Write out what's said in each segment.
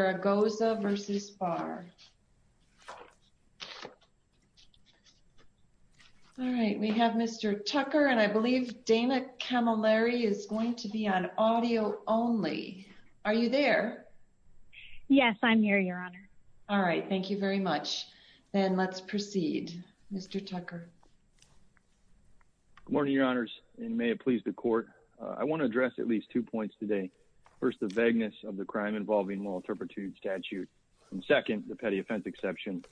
All right, we have Mr. Tucker and I believe Dana Camilleri is going to be on audio only. Are you there? Yes, I'm here, Your Honor. All right, thank you very much. Then let's proceed. Mr. Tucker. Good morning, Your Honors, and may it please the Court. I want to address at least two points today. First, the vagueness of the moral turpitude statute. And second, the petty offense exception.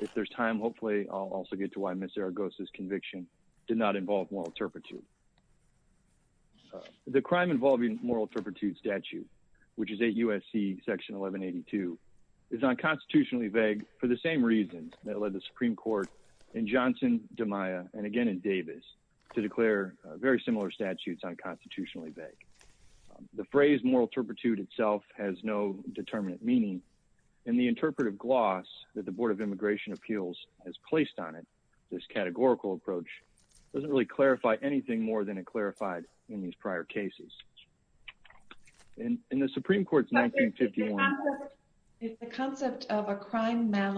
If there's time, hopefully I'll also get to why Ms. Zaragoza's conviction did not involve moral turpitude. The crime involving moral turpitude statute, which is 8 U.S.C. Section 1182, is unconstitutionally vague for the same reasons that led the Supreme Court in Johnson, DiMaia, and again in Davis to declare very similar statutes unconstitutionally vague. The phrase moral turpitude itself has no determinate meaning, and the interpretive gloss that the Board of Immigration Appeals has placed on it, this categorical approach, doesn't really clarify anything more than it clarified in these prior cases. In the Supreme Court's 1951 It's the concept of a crime that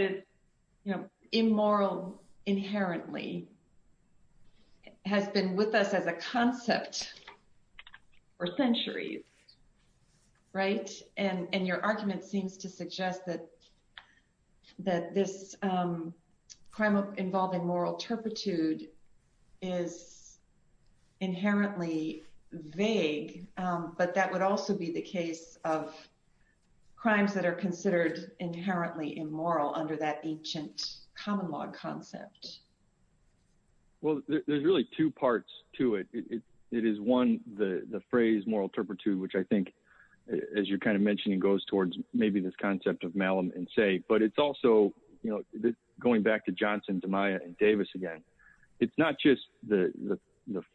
is, you know, immoral inherently, has been with us as a concept for centuries, right? And your argument seems to suggest that this crime involving moral turpitude is inherently vague, but that would also be the case of crimes that are considered inherently immoral under that ancient common law concept. Well, there's really two parts to it. It is, one, the phrase moral turpitude, which I think, as you kind of mentioned, it goes towards maybe this concept of malum in se, but it's also, you know, going back to Johnson, DiMaia, and Davis again, it's not just the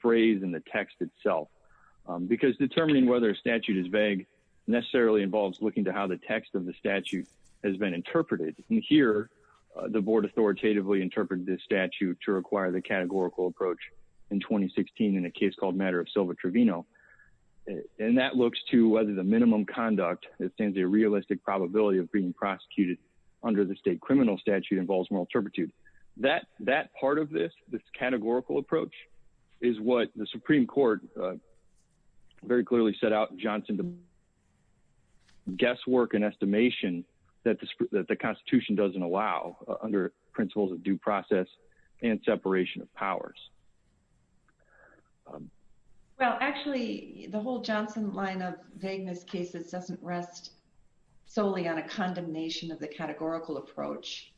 phrase and the text itself. Because determining whether a statute is vague necessarily involves looking to how the text of the statute has been interpreted. And here, the Board authoritatively interpreted this statute to require the categorical approach in 2016 in a case called matter of Silva Trevino. And that looks to whether the minimum conduct that stands a realistic probability of being prosecuted under the state criminal statute involves moral turpitude. That part of this, this categorical approach, is what the Supreme Court very clearly set out in Johnson, guesswork and estimation that the Constitution doesn't allow under principles of due process and separation of powers. Well, actually, the whole Johnson line of vagueness cases doesn't rest solely on a categorical approach,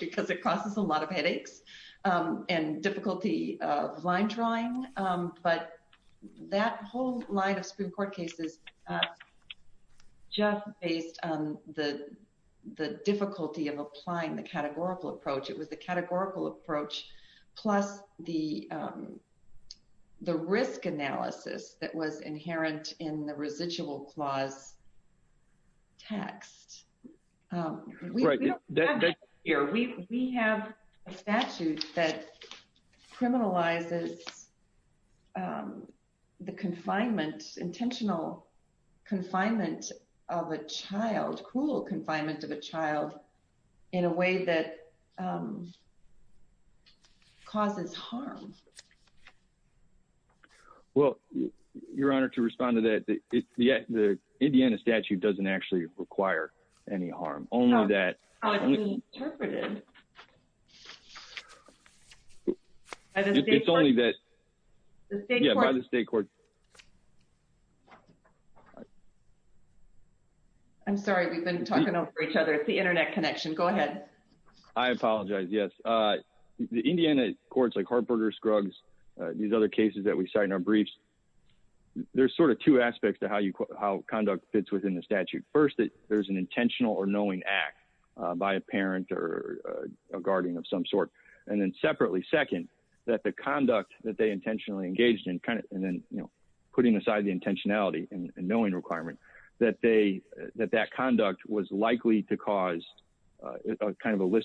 because it causes a lot of headaches and difficulty of line drawing. But that whole line of Supreme Court cases, just based on the difficulty of applying the categorical approach, it was the categorical approach, plus the risk analysis that was inherent in the residual clause text. We have a statute that criminalizes the confinement, intentional confinement of a child, cruel confinement of a child, in a way that causes harm. Well, Your Honor, to respond to that, the Indiana statute doesn't actually require any harm, only that it's only that by the state court. I'm sorry, we've been talking over each other. It's the internet connection. Go ahead. I apologize. Yes. The Indiana courts like Hartberger, Scruggs, these other cases that we cite in our briefs, there's sort of two aspects to how conduct fits within the statute. First, there's an intentional or knowing act by a parent or a guardian of some sort. And then separately, second, that the conduct that they intentionally engaged in, and then putting aside the list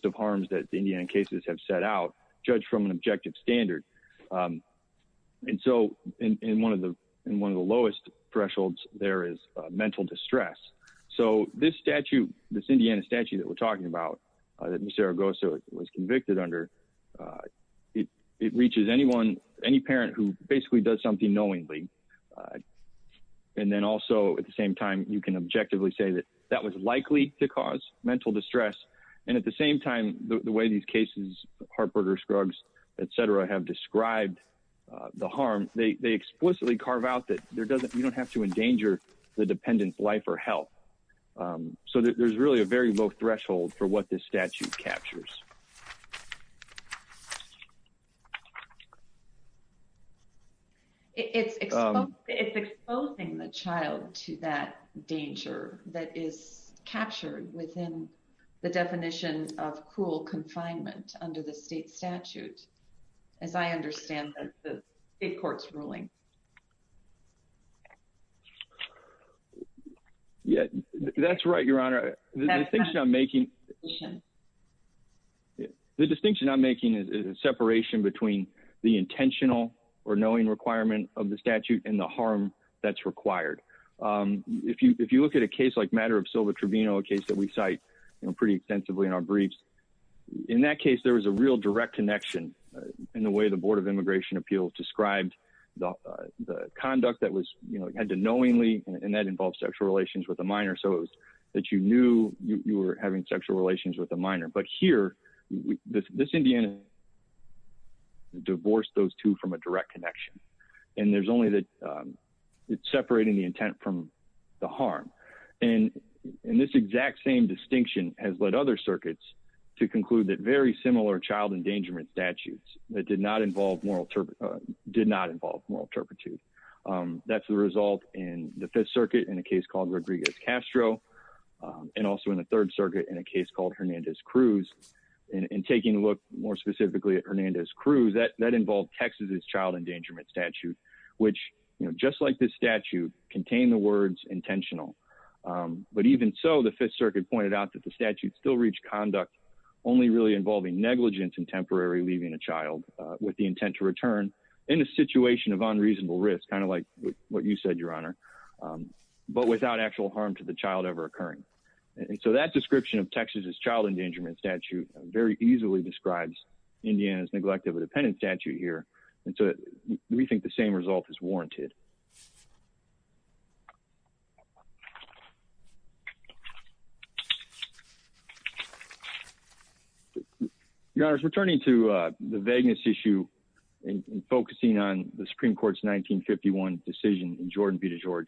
of harms that the Indiana cases have set out, judged from an objective standard. And so, in one of the lowest thresholds, there is mental distress. So, this Indiana statute that we're talking about, that Ms. Zaragoza was convicted under, it reaches any parent who basically does something knowingly. And then also, at the same time, you can objectively say that was likely to cause mental distress. And at the same time, the way these cases, Hartberger, Scruggs, et cetera, have described the harm, they explicitly carve out that you don't have to endanger the dependent's life or health. So, there's really a very low threshold for what this statute captures. It's exposing the child to that danger that is captured within the definition of cruel confinement under the state statute, as I understand the state court's ruling. Yeah, that's right, Your Honor. The distinction I'm making is a separation between the intentional or knowing requirement of the statute and the harm that's required. If you look at a case like matter of civil tribunal, a case that we cite pretty extensively in our briefs, in that case, there was a real direct connection in the way the Board of Immigration Appeals described the conduct that had to knowingly, and that involves sexual relations with a minor, so it was that you knew you were having sexual relations with a minor. But here, this Indiana divorced those two from a direct connection. And it's separating the intent from the harm. And this exact same distinction has led other circuits to conclude that very similar child endangerment statutes that did not involve moral turpitude. That's the result in the Fifth Circuit in a case called Rodriguez-Castro, and also in the Third Circuit in a case called Hernandez-Cruz. And taking a look more specifically at Hernandez-Cruz, that involved Texas' child endangerment statute, which, just like this statute, contained the words intentional. But even so, the Fifth Circuit pointed out that the statute still reached conduct only really involving negligence and temporary leaving a child with the intent to return in a situation of unreasonable risk, kind of like what you said, Your Honor, but without actual harm to the child ever occurring. And so that description of Texas' child endangerment statute very easily describes Indiana's neglect of a dependent statute here. And so we think the same result is warranted. Your Honor, returning to the vagueness issue and focusing on the Supreme Court's 1951 decision in Jordan v. DeGeorge,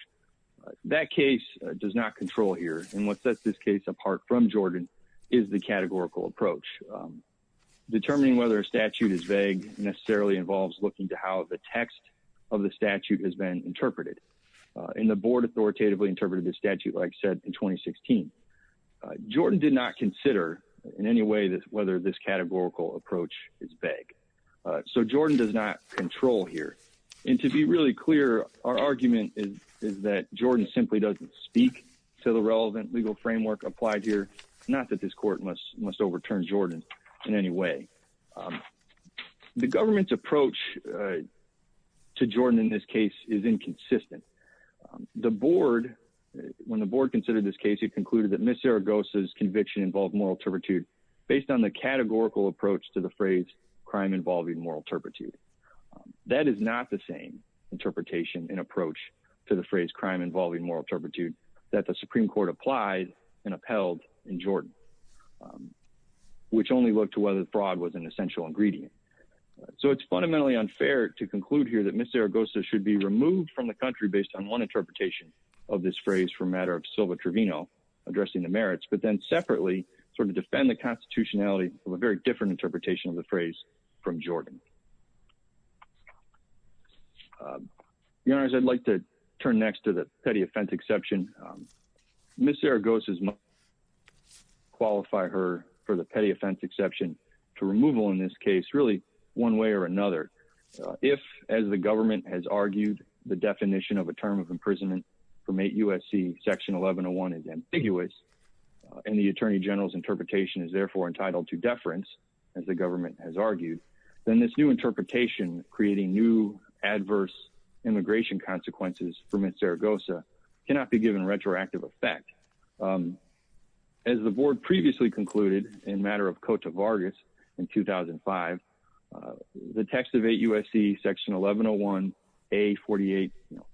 that case does not control here. And what sets this case apart from Jordan is the categorical approach. Determining whether a statute is vague necessarily involves looking to how the text of the statute has been interpreted. And the Board authoritatively interpreted the statute, like I said, in 2016. Jordan did not consider in any way whether this categorical approach is vague. So Jordan does not control here. And to be really clear, our argument is that Jordan simply doesn't speak to the relevant legal framework applied here, not that this Court must overturn Jordan in any way. The government's approach to Jordan in this case is inconsistent. The Board, when the Board considered this case, it concluded that Ms. Zaragoza's conviction involved moral turpitude based on the categorical approach to the phrase crime involving moral turpitude. That is not the same interpretation and approach to the phrase crime involving moral turpitude that the Supreme Court applied and upheld in Jordan, which only looked to whether fraud was an essential ingredient. So it's fundamentally unfair to conclude here that Ms. Zaragoza should be removed from the country based on one interpretation of this phrase for matter of Silva Trevino addressing the merits, but then separately sort of defend the constitutionality of a very different interpretation of the phrase from Jordan. Your Honors, I'd like to turn next to the petty offense exception. Ms. Zaragoza must qualify her for the petty offense exception to removal in this case really one way or another. If, as the government has argued, the definition of a term of imprisonment from 8 U.S.C. section 1101 is ambiguous and the Attorney General's interpretation is therefore entitled to deference, as the government has argued, then this new interpretation creating new adverse immigration consequences for Ms. Zaragoza cannot be given retroactive effect. As the Board previously concluded in matter of Cote de Vargas in 2005, the text of 8 U.S.C. section 1101A48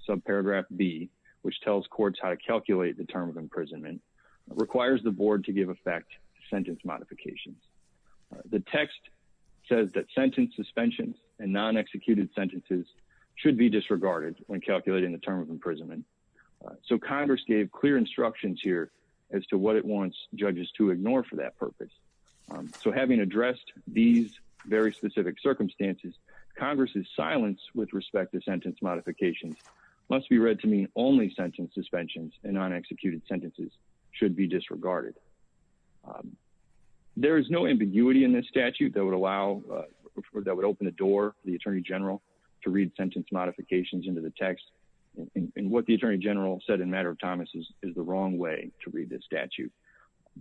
subparagraph B, which tells courts how to calculate the term of imprisonment, requires the Board to give effect to sentence modifications. The text says that sentence suspensions and non-executed sentences should be disregarded when calculating the term of imprisonment. So Congress gave clear instructions here as to what it wants judges to ignore for that purpose. So having addressed these very specific circumstances, Congress's silence with respect to sentence modifications must be read to mean only sentence suspensions and non-executed sentences should be disregarded. There is no ambiguity in this statute that would allow, that would open the door for the Attorney General to read sentence modifications into the text, and what the Attorney General said in matter of Thomas is the wrong way to read this statute.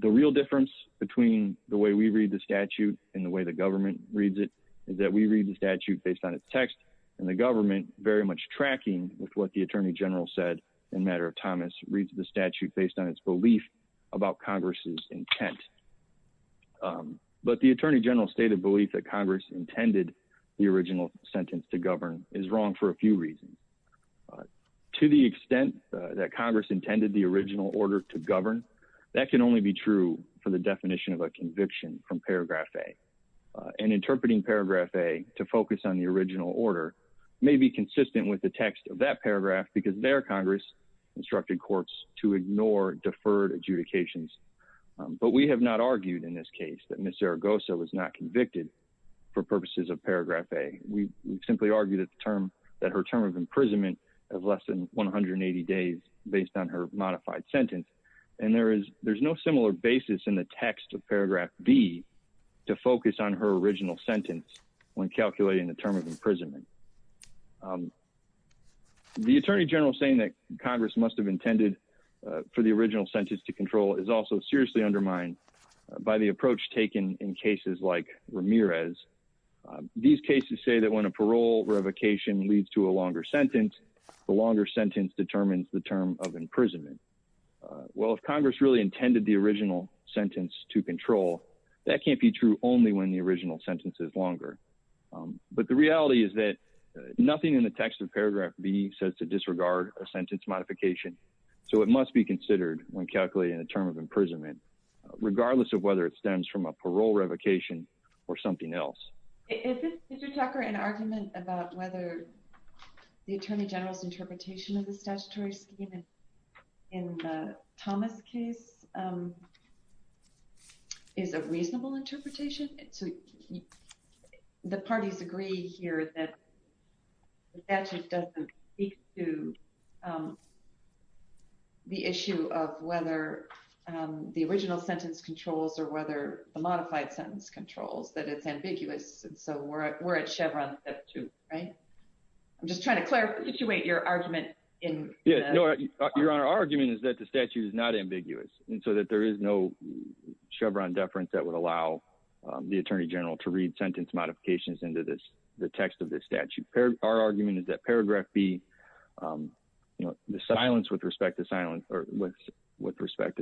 The real difference between the way we read the statute and the way the government reads it is that we read the statute based on its text and the government very much tracking with what the Attorney General said in matter of Thomas reads the statute based on its belief about Congress's intent. But the Attorney General's stated belief that Congress intended the original sentence to govern is wrong for a few reasons. To the extent that Congress intended the original order to govern, that can only be true for the definition of a conviction from Paragraph A. And interpreting Paragraph A to focus on the original order may be consistent with the text of that paragraph because there Congress instructed courts to ignore deferred adjudications. But we have not argued in this case that Ms. Zaragoza was not convicted for purposes of Paragraph A. We simply argue that the term, that her term of imprisonment of less than 180 days based on her modified sentence, and there is no similar basis in the text of Paragraph B to focus on her original sentence when calculating the term of imprisonment. The Attorney General saying that Congress must have intended for the original sentence to control is also seriously undermined by the approach taken in cases like Ramirez. These cases say that when a parole revocation leads to a longer sentence, the longer original sentence to control, that can't be true only when the original sentence is longer. But the reality is that nothing in the text of Paragraph B says to disregard a sentence modification, so it must be considered when calculating the term of imprisonment, regardless of whether it stems from a parole revocation or something else. Is this, Mr. Tucker, an argument about whether the Attorney General's interpretation of the statutory scheme in the Thomas case is a reasonable interpretation? So the parties agree here that the statute doesn't speak to the issue of whether the original sentence controls or whether the modified sentence controls, that it's ambiguous, and so we're at Chevron, that's true, right? I'm just trying to there is no Chevron deference that would allow the Attorney General to read sentence modifications into the text of this statute. Our argument is that Paragraph B, the silence with respect to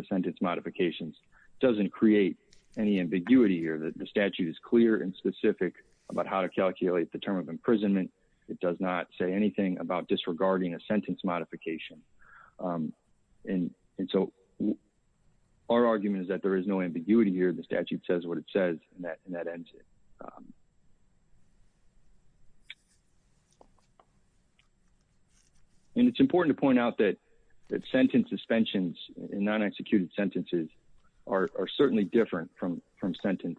sentence modifications doesn't create any ambiguity here. The statute is clear and specific about how to calculate the term of imprisonment. It does not say anything about disregarding a our argument is that there is no ambiguity here. The statute says what it says and that ends it. And it's important to point out that sentence suspensions in non-executed sentences are certainly different from sentence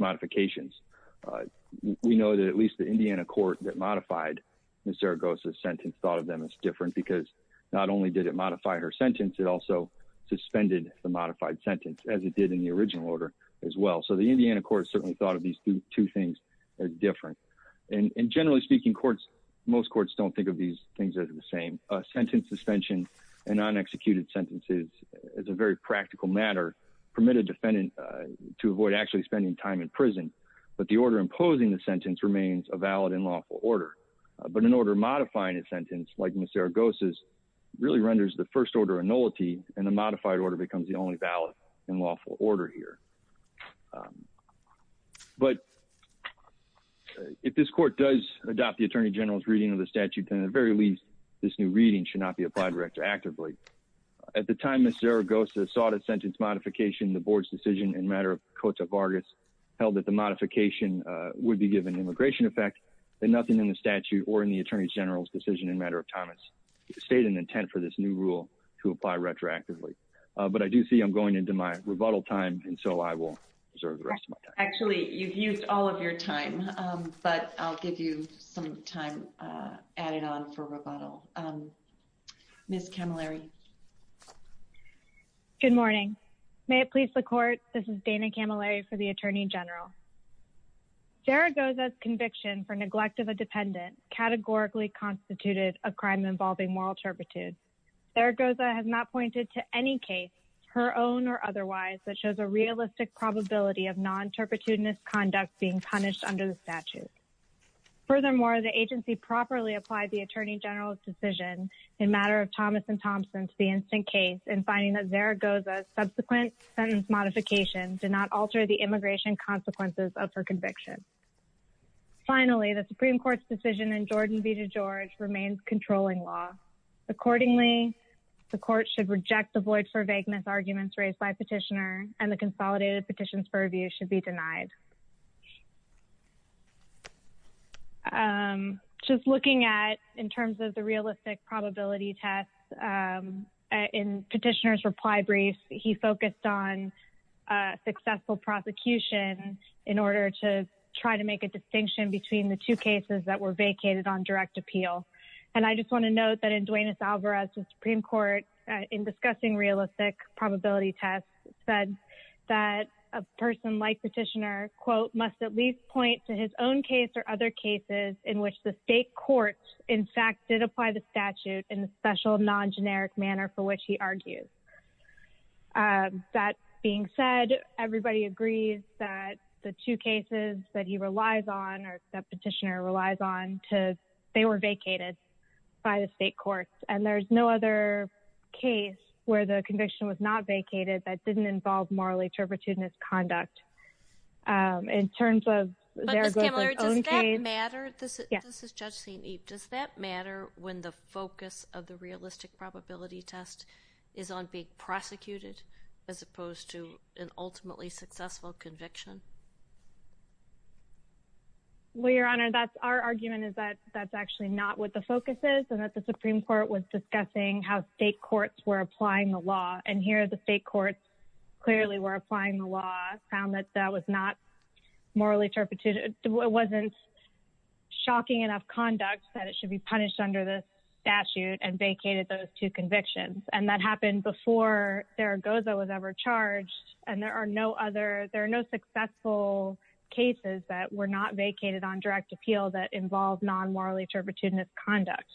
modifications. We know that at least the Indiana court that modified Ms. Zaragoza's sentence thought of them as different because not only did it modify her suspended the modified sentence as it did in the original order as well, so the Indiana court certainly thought of these two things as different. And generally speaking, courts, most courts don't think of these things as the same. A sentence suspension in non-executed sentences is a very practical matter, permitted defendant to avoid actually spending time in prison, but the order imposing the sentence remains a valid and lawful order. But an order modifying a sentence like Ms. Zaragoza's in the modified order becomes the only valid and lawful order here. But if this court does adopt the Attorney General's reading of the statute, then at the very least, this new reading should not be applied retroactively. At the time Ms. Zaragoza sought a sentence modification, the board's decision in matter of Cota Vargas held that the modification would be given immigration effect and nothing in the statute or in the Attorney General's decision in matter of time state an intent for this new rule to apply retroactively. But I do see I'm going into my rebuttal time, and so I will reserve the rest of my time. Actually, you've used all of your time, but I'll give you some time added on for rebuttal. Ms. Camilleri. Good morning. May it please the court, this is Dana Camilleri for the Attorney General. Zaragoza's conviction for neglect of a dependent categorically constituted a crime involving moral turpitude. Zaragoza has not pointed to any case, her own or otherwise, that shows a realistic probability of non-turpitudinous conduct being punished under the statute. Furthermore, the agency properly applied the Attorney General's decision in matter of Thomas and Thompson to the instant case in finding that Zaragoza's subsequent sentence modification did not alter the immigration consequences of her conviction. Finally, the Supreme Court's decision in Jordan v. George remains controlling law. Accordingly, the court should reject the void for vagueness arguments raised by petitioner and the consolidated petitions for review should be denied. Just looking at in terms of the realistic probability test, in petitioner's reply brief, he focused on successful prosecution in order to try to make a distinction between the two cases that were vacated on direct appeal. And I just want to note that in Duenas-Alvarez, the Supreme Court, in discussing realistic probability tests, said that a person like petitioner, quote, must at least point to his own case or other cases in which the state courts, in fact, did apply the statute in a special non-generic manner for which he argues. That being said, everybody agrees that the two cases that he relies on, or that petitioner relies on, they were vacated by the state courts. And there's no other case where the conviction was not vacated that didn't involve morally turpitude in its conduct. In terms of Zaragoza's own case. But Ms. Camilleri, does that matter? Yes. This is Judge Sainib. Does that matter when the focus of the realistic probability test is on being prosecuted as opposed to an ultimately successful conviction? Well, Your Honor, our argument is that that's actually not what the focus is, and that the Supreme Court was discussing how state courts were applying the law. And here, the state courts clearly were applying the law, found that that was not conduct, that it should be punished under the statute, and vacated those two convictions. And that happened before Zaragoza was ever charged. And there are no successful cases that were not vacated on direct appeal that involved non-morally turpitude in its conduct.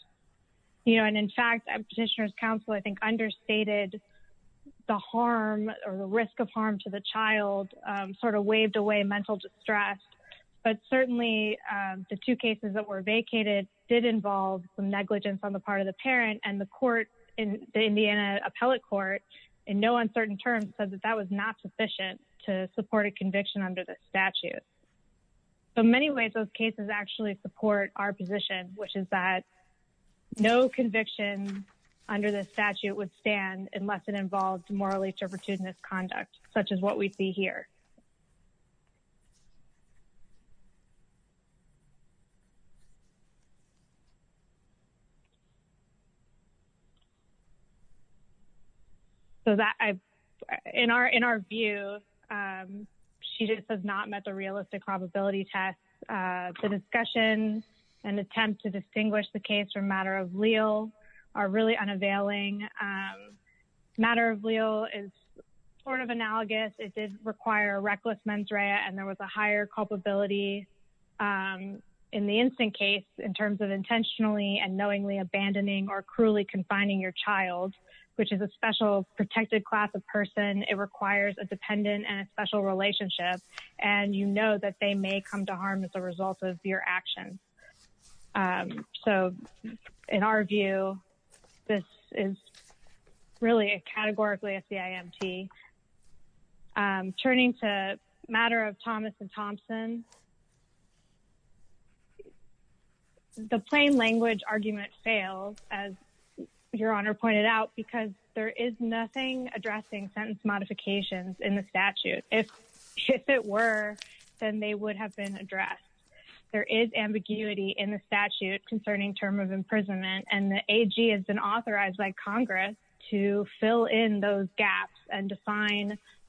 And in fact, Petitioner's Counsel, I think, understated the harm or the risk of harm to the child, sort of waved away mental distress. But certainly, the two cases that were vacated did involve some negligence on the part of the parent. And the court, the Indiana Appellate Court, in no uncertain terms, said that that was not sufficient to support a conviction under the statute. So in many ways, those cases actually support our position, which is that no conviction under the statute would stand unless it involved morally turpitude in its conduct, such as what we see here. So in our view, she just has not met the realistic probability test. The discussion and attempt to distinguish the case from matter of leal are really unavailing. Matter of leal is sort of analogous. It did require a reckless mens rea, and there was a higher culpability in the instant case in terms of intentionally and knowingly abandoning or cruelly confining your child, which is a special protected class of person. It requires a dependent and a special relationship, and you know that they may come to harm as a result of your actions. So in our view, this is really categorically a CIMT. Turning to matter of Thomas and Thompson, the plain language argument fails, as Your Honor pointed out, because there is nothing addressing sentence modifications in the statute. If it were, then they would have been addressed. There is ambiguity in the statute concerning term of imprisonment, and the AG has been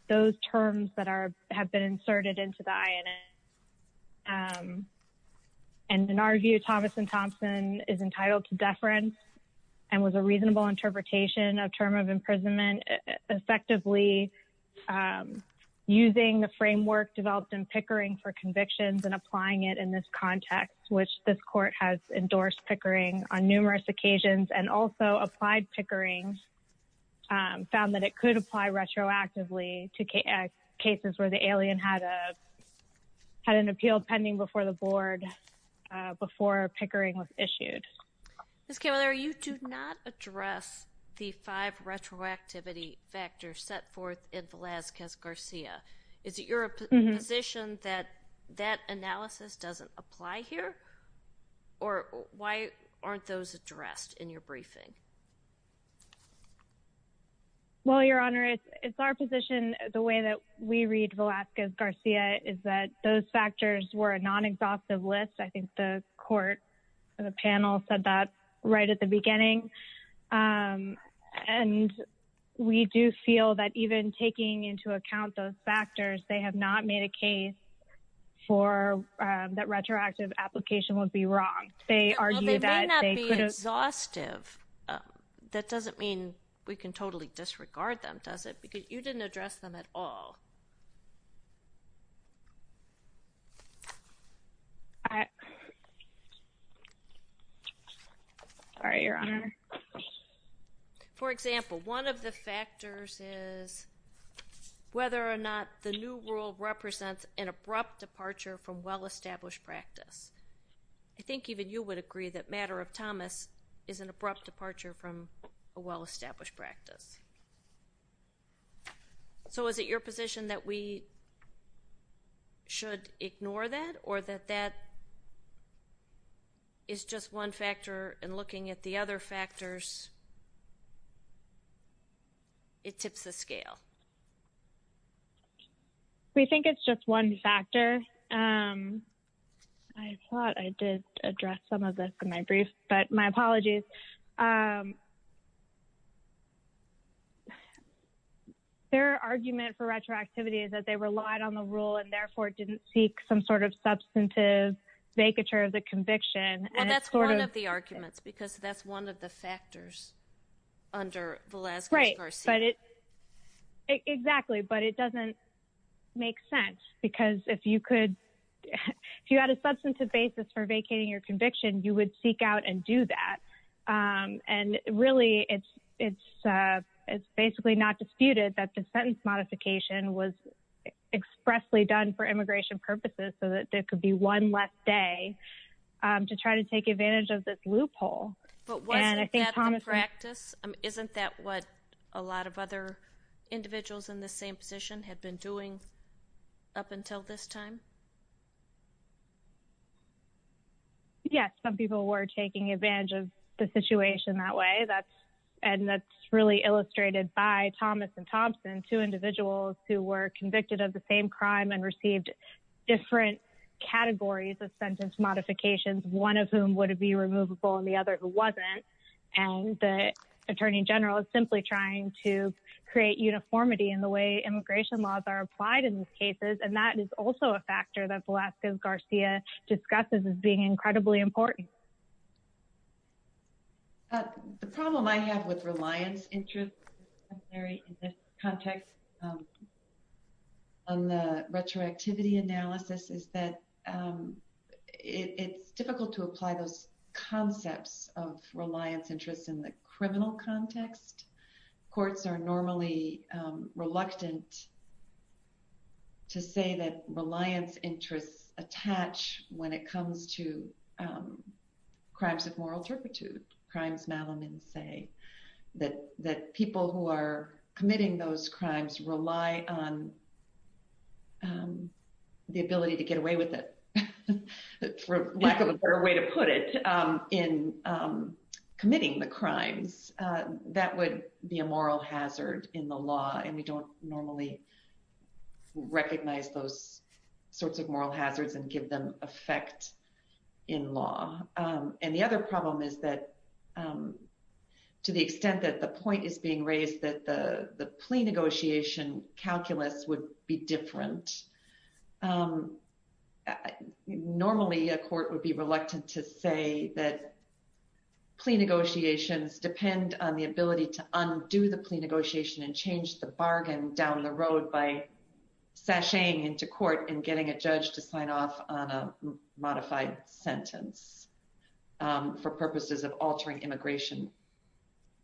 those terms that have been inserted into the INS. And in our view, Thomas and Thompson is entitled to deference and was a reasonable interpretation of term of imprisonment, effectively using the framework developed in Pickering for convictions and applying it in this context, which this court has endorsed Pickering on numerous occasions and also applied Pickering, found that it could apply retroactively to cases where the alien had an appeal pending before the board, before Pickering was issued. Ms. Kammeler, you do not address the five retroactivity factors set forth in Velazquez-Garcia. Is it your position that that analysis doesn't apply here? Or why aren't those addressed in your briefing? Well, Your Honor, it's our position, the way that we read Velazquez-Garcia, is that those factors were a non-exhaustive list. I think the court and the panel said that right at the beginning. And we do feel that even taking into account those factors, they have not made a case for that retroactive application would be wrong. They argue that they could have... That doesn't mean we can totally disregard them, does it? Because you didn't address them at all. All right, Your Honor. For example, one of the factors is whether or not the new rule represents an abrupt departure from well-established practice. I think even you would agree that Thomas is an abrupt departure from a well-established practice. So is it your position that we should ignore that? Or that that is just one factor, and looking at the other factors, it tips the scale? Well, we think it's just one factor. I thought I did address some of this in my brief, but my apologies. Their argument for retroactivity is that they relied on the rule and therefore didn't seek some sort of substantive vacature of the conviction. And that's one of the arguments, because that's one of the factors under Velazquez-Garcia. Right, but it Exactly, but it doesn't make sense, because if you had a substantive basis for vacating your conviction, you would seek out and do that. And really, it's basically not disputed that the sentence modification was expressly done for immigration purposes, so that there could be one less day to try to take advantage of this loophole. But wasn't that the practice? Isn't that what a lot of other individuals in the same position had been doing up until this time? Yes, some people were taking advantage of the situation that way. And that's really illustrated by Thomas and Thompson, two individuals who were convicted of the same crime and received different categories of sentence modifications, one of whom would be removable and the other who wasn't. And the Attorney General is simply trying to create uniformity in the way immigration laws are applied in these cases. And that is also a factor that Velazquez-Garcia discusses as being incredibly important. The problem I have with reliance in this context on the retroactivity analysis is that it's difficult to apply those concepts of reliance interests in the criminal context. Courts are normally reluctant to say that reliance interests attach when it comes to crimes of moral turpitude, crimes Malamud say, that people who are committing those crimes rely on the ability to get away with it, for lack of a better way to put it, in committing the crimes. That would be a moral hazard in the law, and we don't normally recognize those sorts of moral hazards and give them effect in law. And the other problem is that to the extent that the point is being raised that the plea negotiation calculus would be different normally a court would be reluctant to say that plea negotiations depend on the ability to undo the plea negotiation and change the bargain down the road by sashaying into court and getting a judge to sign off on a modified sentence for purposes of altering immigration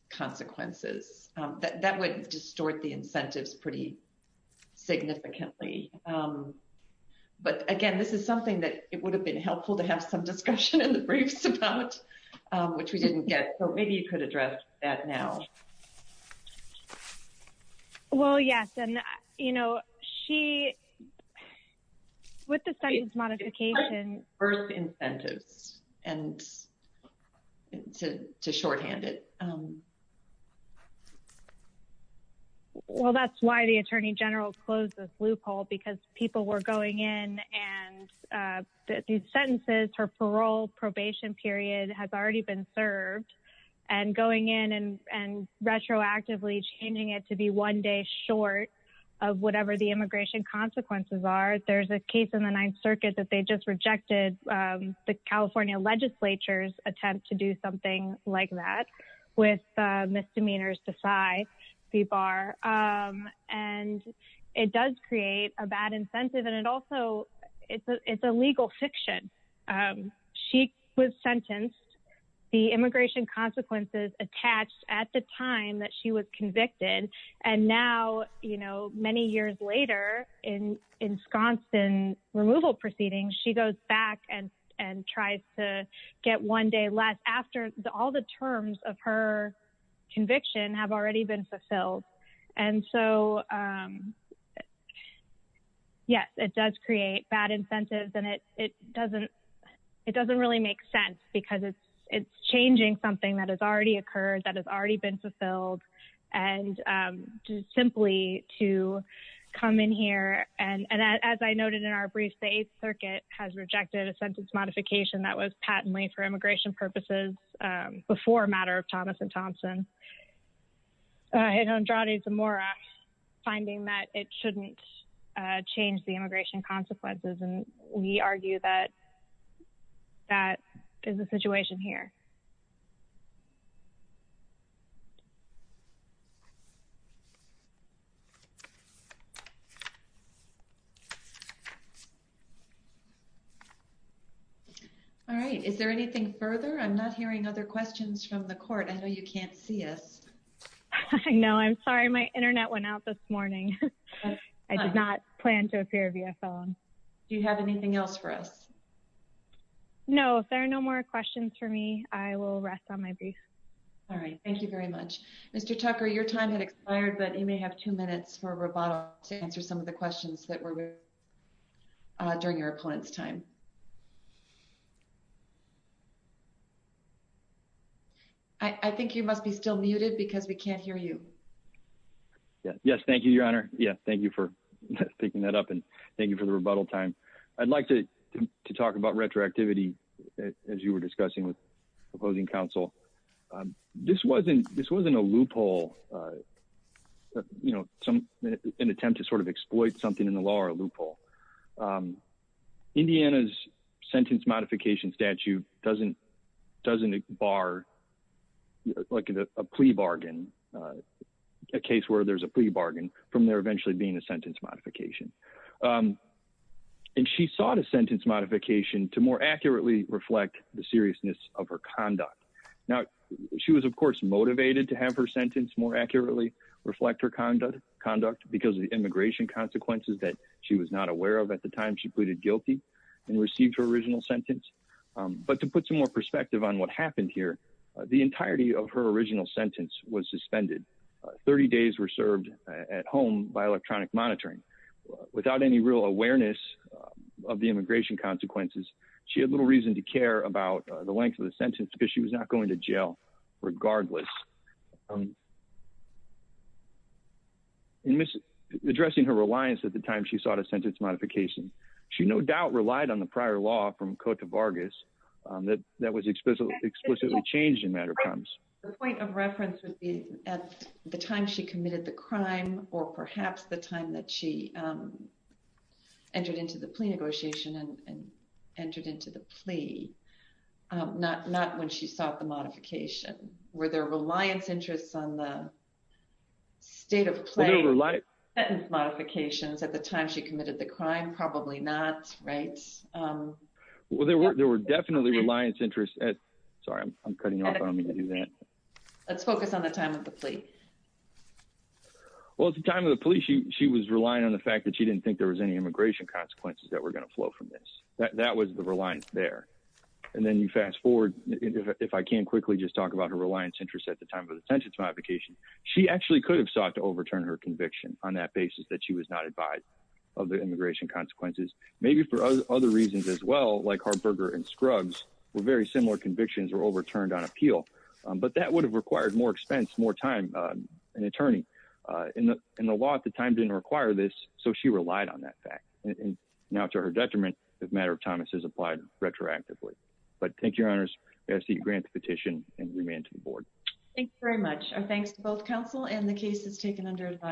consequences. That would distort the incentives pretty significantly. But again, this is something that it would have been helpful to have some discussion in the briefs about, which we didn't get. So maybe you could address that now. Well, yes. And, you know, she, with the sentence modification. Birth incentives and to shorthand it. Well, that's why the attorney general closed this loophole, because people were going in and the sentences for parole, probation period has already been served and going in and retroactively changing it to be one day short of whatever the immigration consequences are. There's a case in circuit that they just rejected. The California legislature's attempt to do something like that with misdemeanors to side the bar. And it does create a bad incentive. And it also it's a legal fiction. She was sentenced. The immigration consequences attached at the time she was convicted. And now, you know, many years later in in Sconston, removal proceedings, she goes back and and tries to get one day left after all the terms of her conviction have already been fulfilled. And so, yes, it does create bad incentives. And it doesn't it doesn't really make sense because it's changing something that has already occurred, that has already been fulfilled. And just simply to come in here. And as I noted in our brief, the circuit has rejected a sentence modification that was patently for immigration purposes before a matter of Thomas and Thompson. And Andrade Zamora finding that it shouldn't change the immigration consequences. And we argue that that is the situation here. All right. Is there anything further? I'm not hearing other questions from the court. I know you can't see us. No, I'm sorry. My Internet went out this morning. I did not plan to appear via phone. Do you have anything else for us? No, there are no more questions for me. I will rest on my brief. All right. Thank you very much, Mr. Tucker. Your time had expired, but you may have two minutes for a rebuttal to answer some of the questions that were during your opponent's time. I think you must be still muted because we can't hear you. Yes. Thank you, Your Honor. Yeah. Thank you for picking that up. And thank you for the rebuttal time. I'd like to talk about retroactivity, as you were discussing with opposing counsel. This wasn't a loophole, an attempt to sort of exploit something in the law or a loophole. Indiana's sentence modification statute doesn't bar like a plea bargain, a case where there's a plea bargain from there eventually being a sentence modification. And she sought a sentence modification to more accurately reflect the seriousness of her conduct. Now, she was, of course, motivated to have her sentence more accurately reflect her conduct because of the immigration consequences that she was not aware of at the time she pleaded guilty and received her original sentence. But to put some more perspective on what happened here, the entirety of her original sentence was suspended. 30 days were served at home by electronic monitoring. Without any real awareness of the immigration consequences, she had little reason to care about the length of the sentence because she was not going to jail regardless. In addressing her reliance at the time she sought a sentence modification, she no doubt relied on the prior law from Cote d'Ivore that was explicitly changed in matter of times. The point of reference would be at the time she committed the crime or perhaps the time she entered into the plea negotiation and entered into the plea, not when she sought the modification. Were there reliance interests on the state of play of the sentence modifications at the time she committed the crime? Probably not, right? Well, there were definitely reliance interests. Sorry, I'm cutting off. I don't mean to do that. Let's focus on the time of the plea. Well, at the time of the plea, she was relying on the fact that she didn't think there was any immigration consequences that were going to flow from this. That was the reliance there. And then you fast forward, if I can quickly just talk about her reliance interests at the time of the sentence modification. She actually could have sought to overturn her conviction on that basis that she was not advised of the immigration consequences. Maybe for other reasons as well, like Harberger and Scruggs were very similar convictions were overturned on appeal. But that would have required more expense, more time, an attorney. And the law at the time didn't require this. So she relied on that fact. And now to her detriment, the matter of Thomas is applied retroactively. But thank you, your honors. I ask that you grant the petition and remand to the board. Thanks very much. And thanks to both counsel and the cases taken under advice.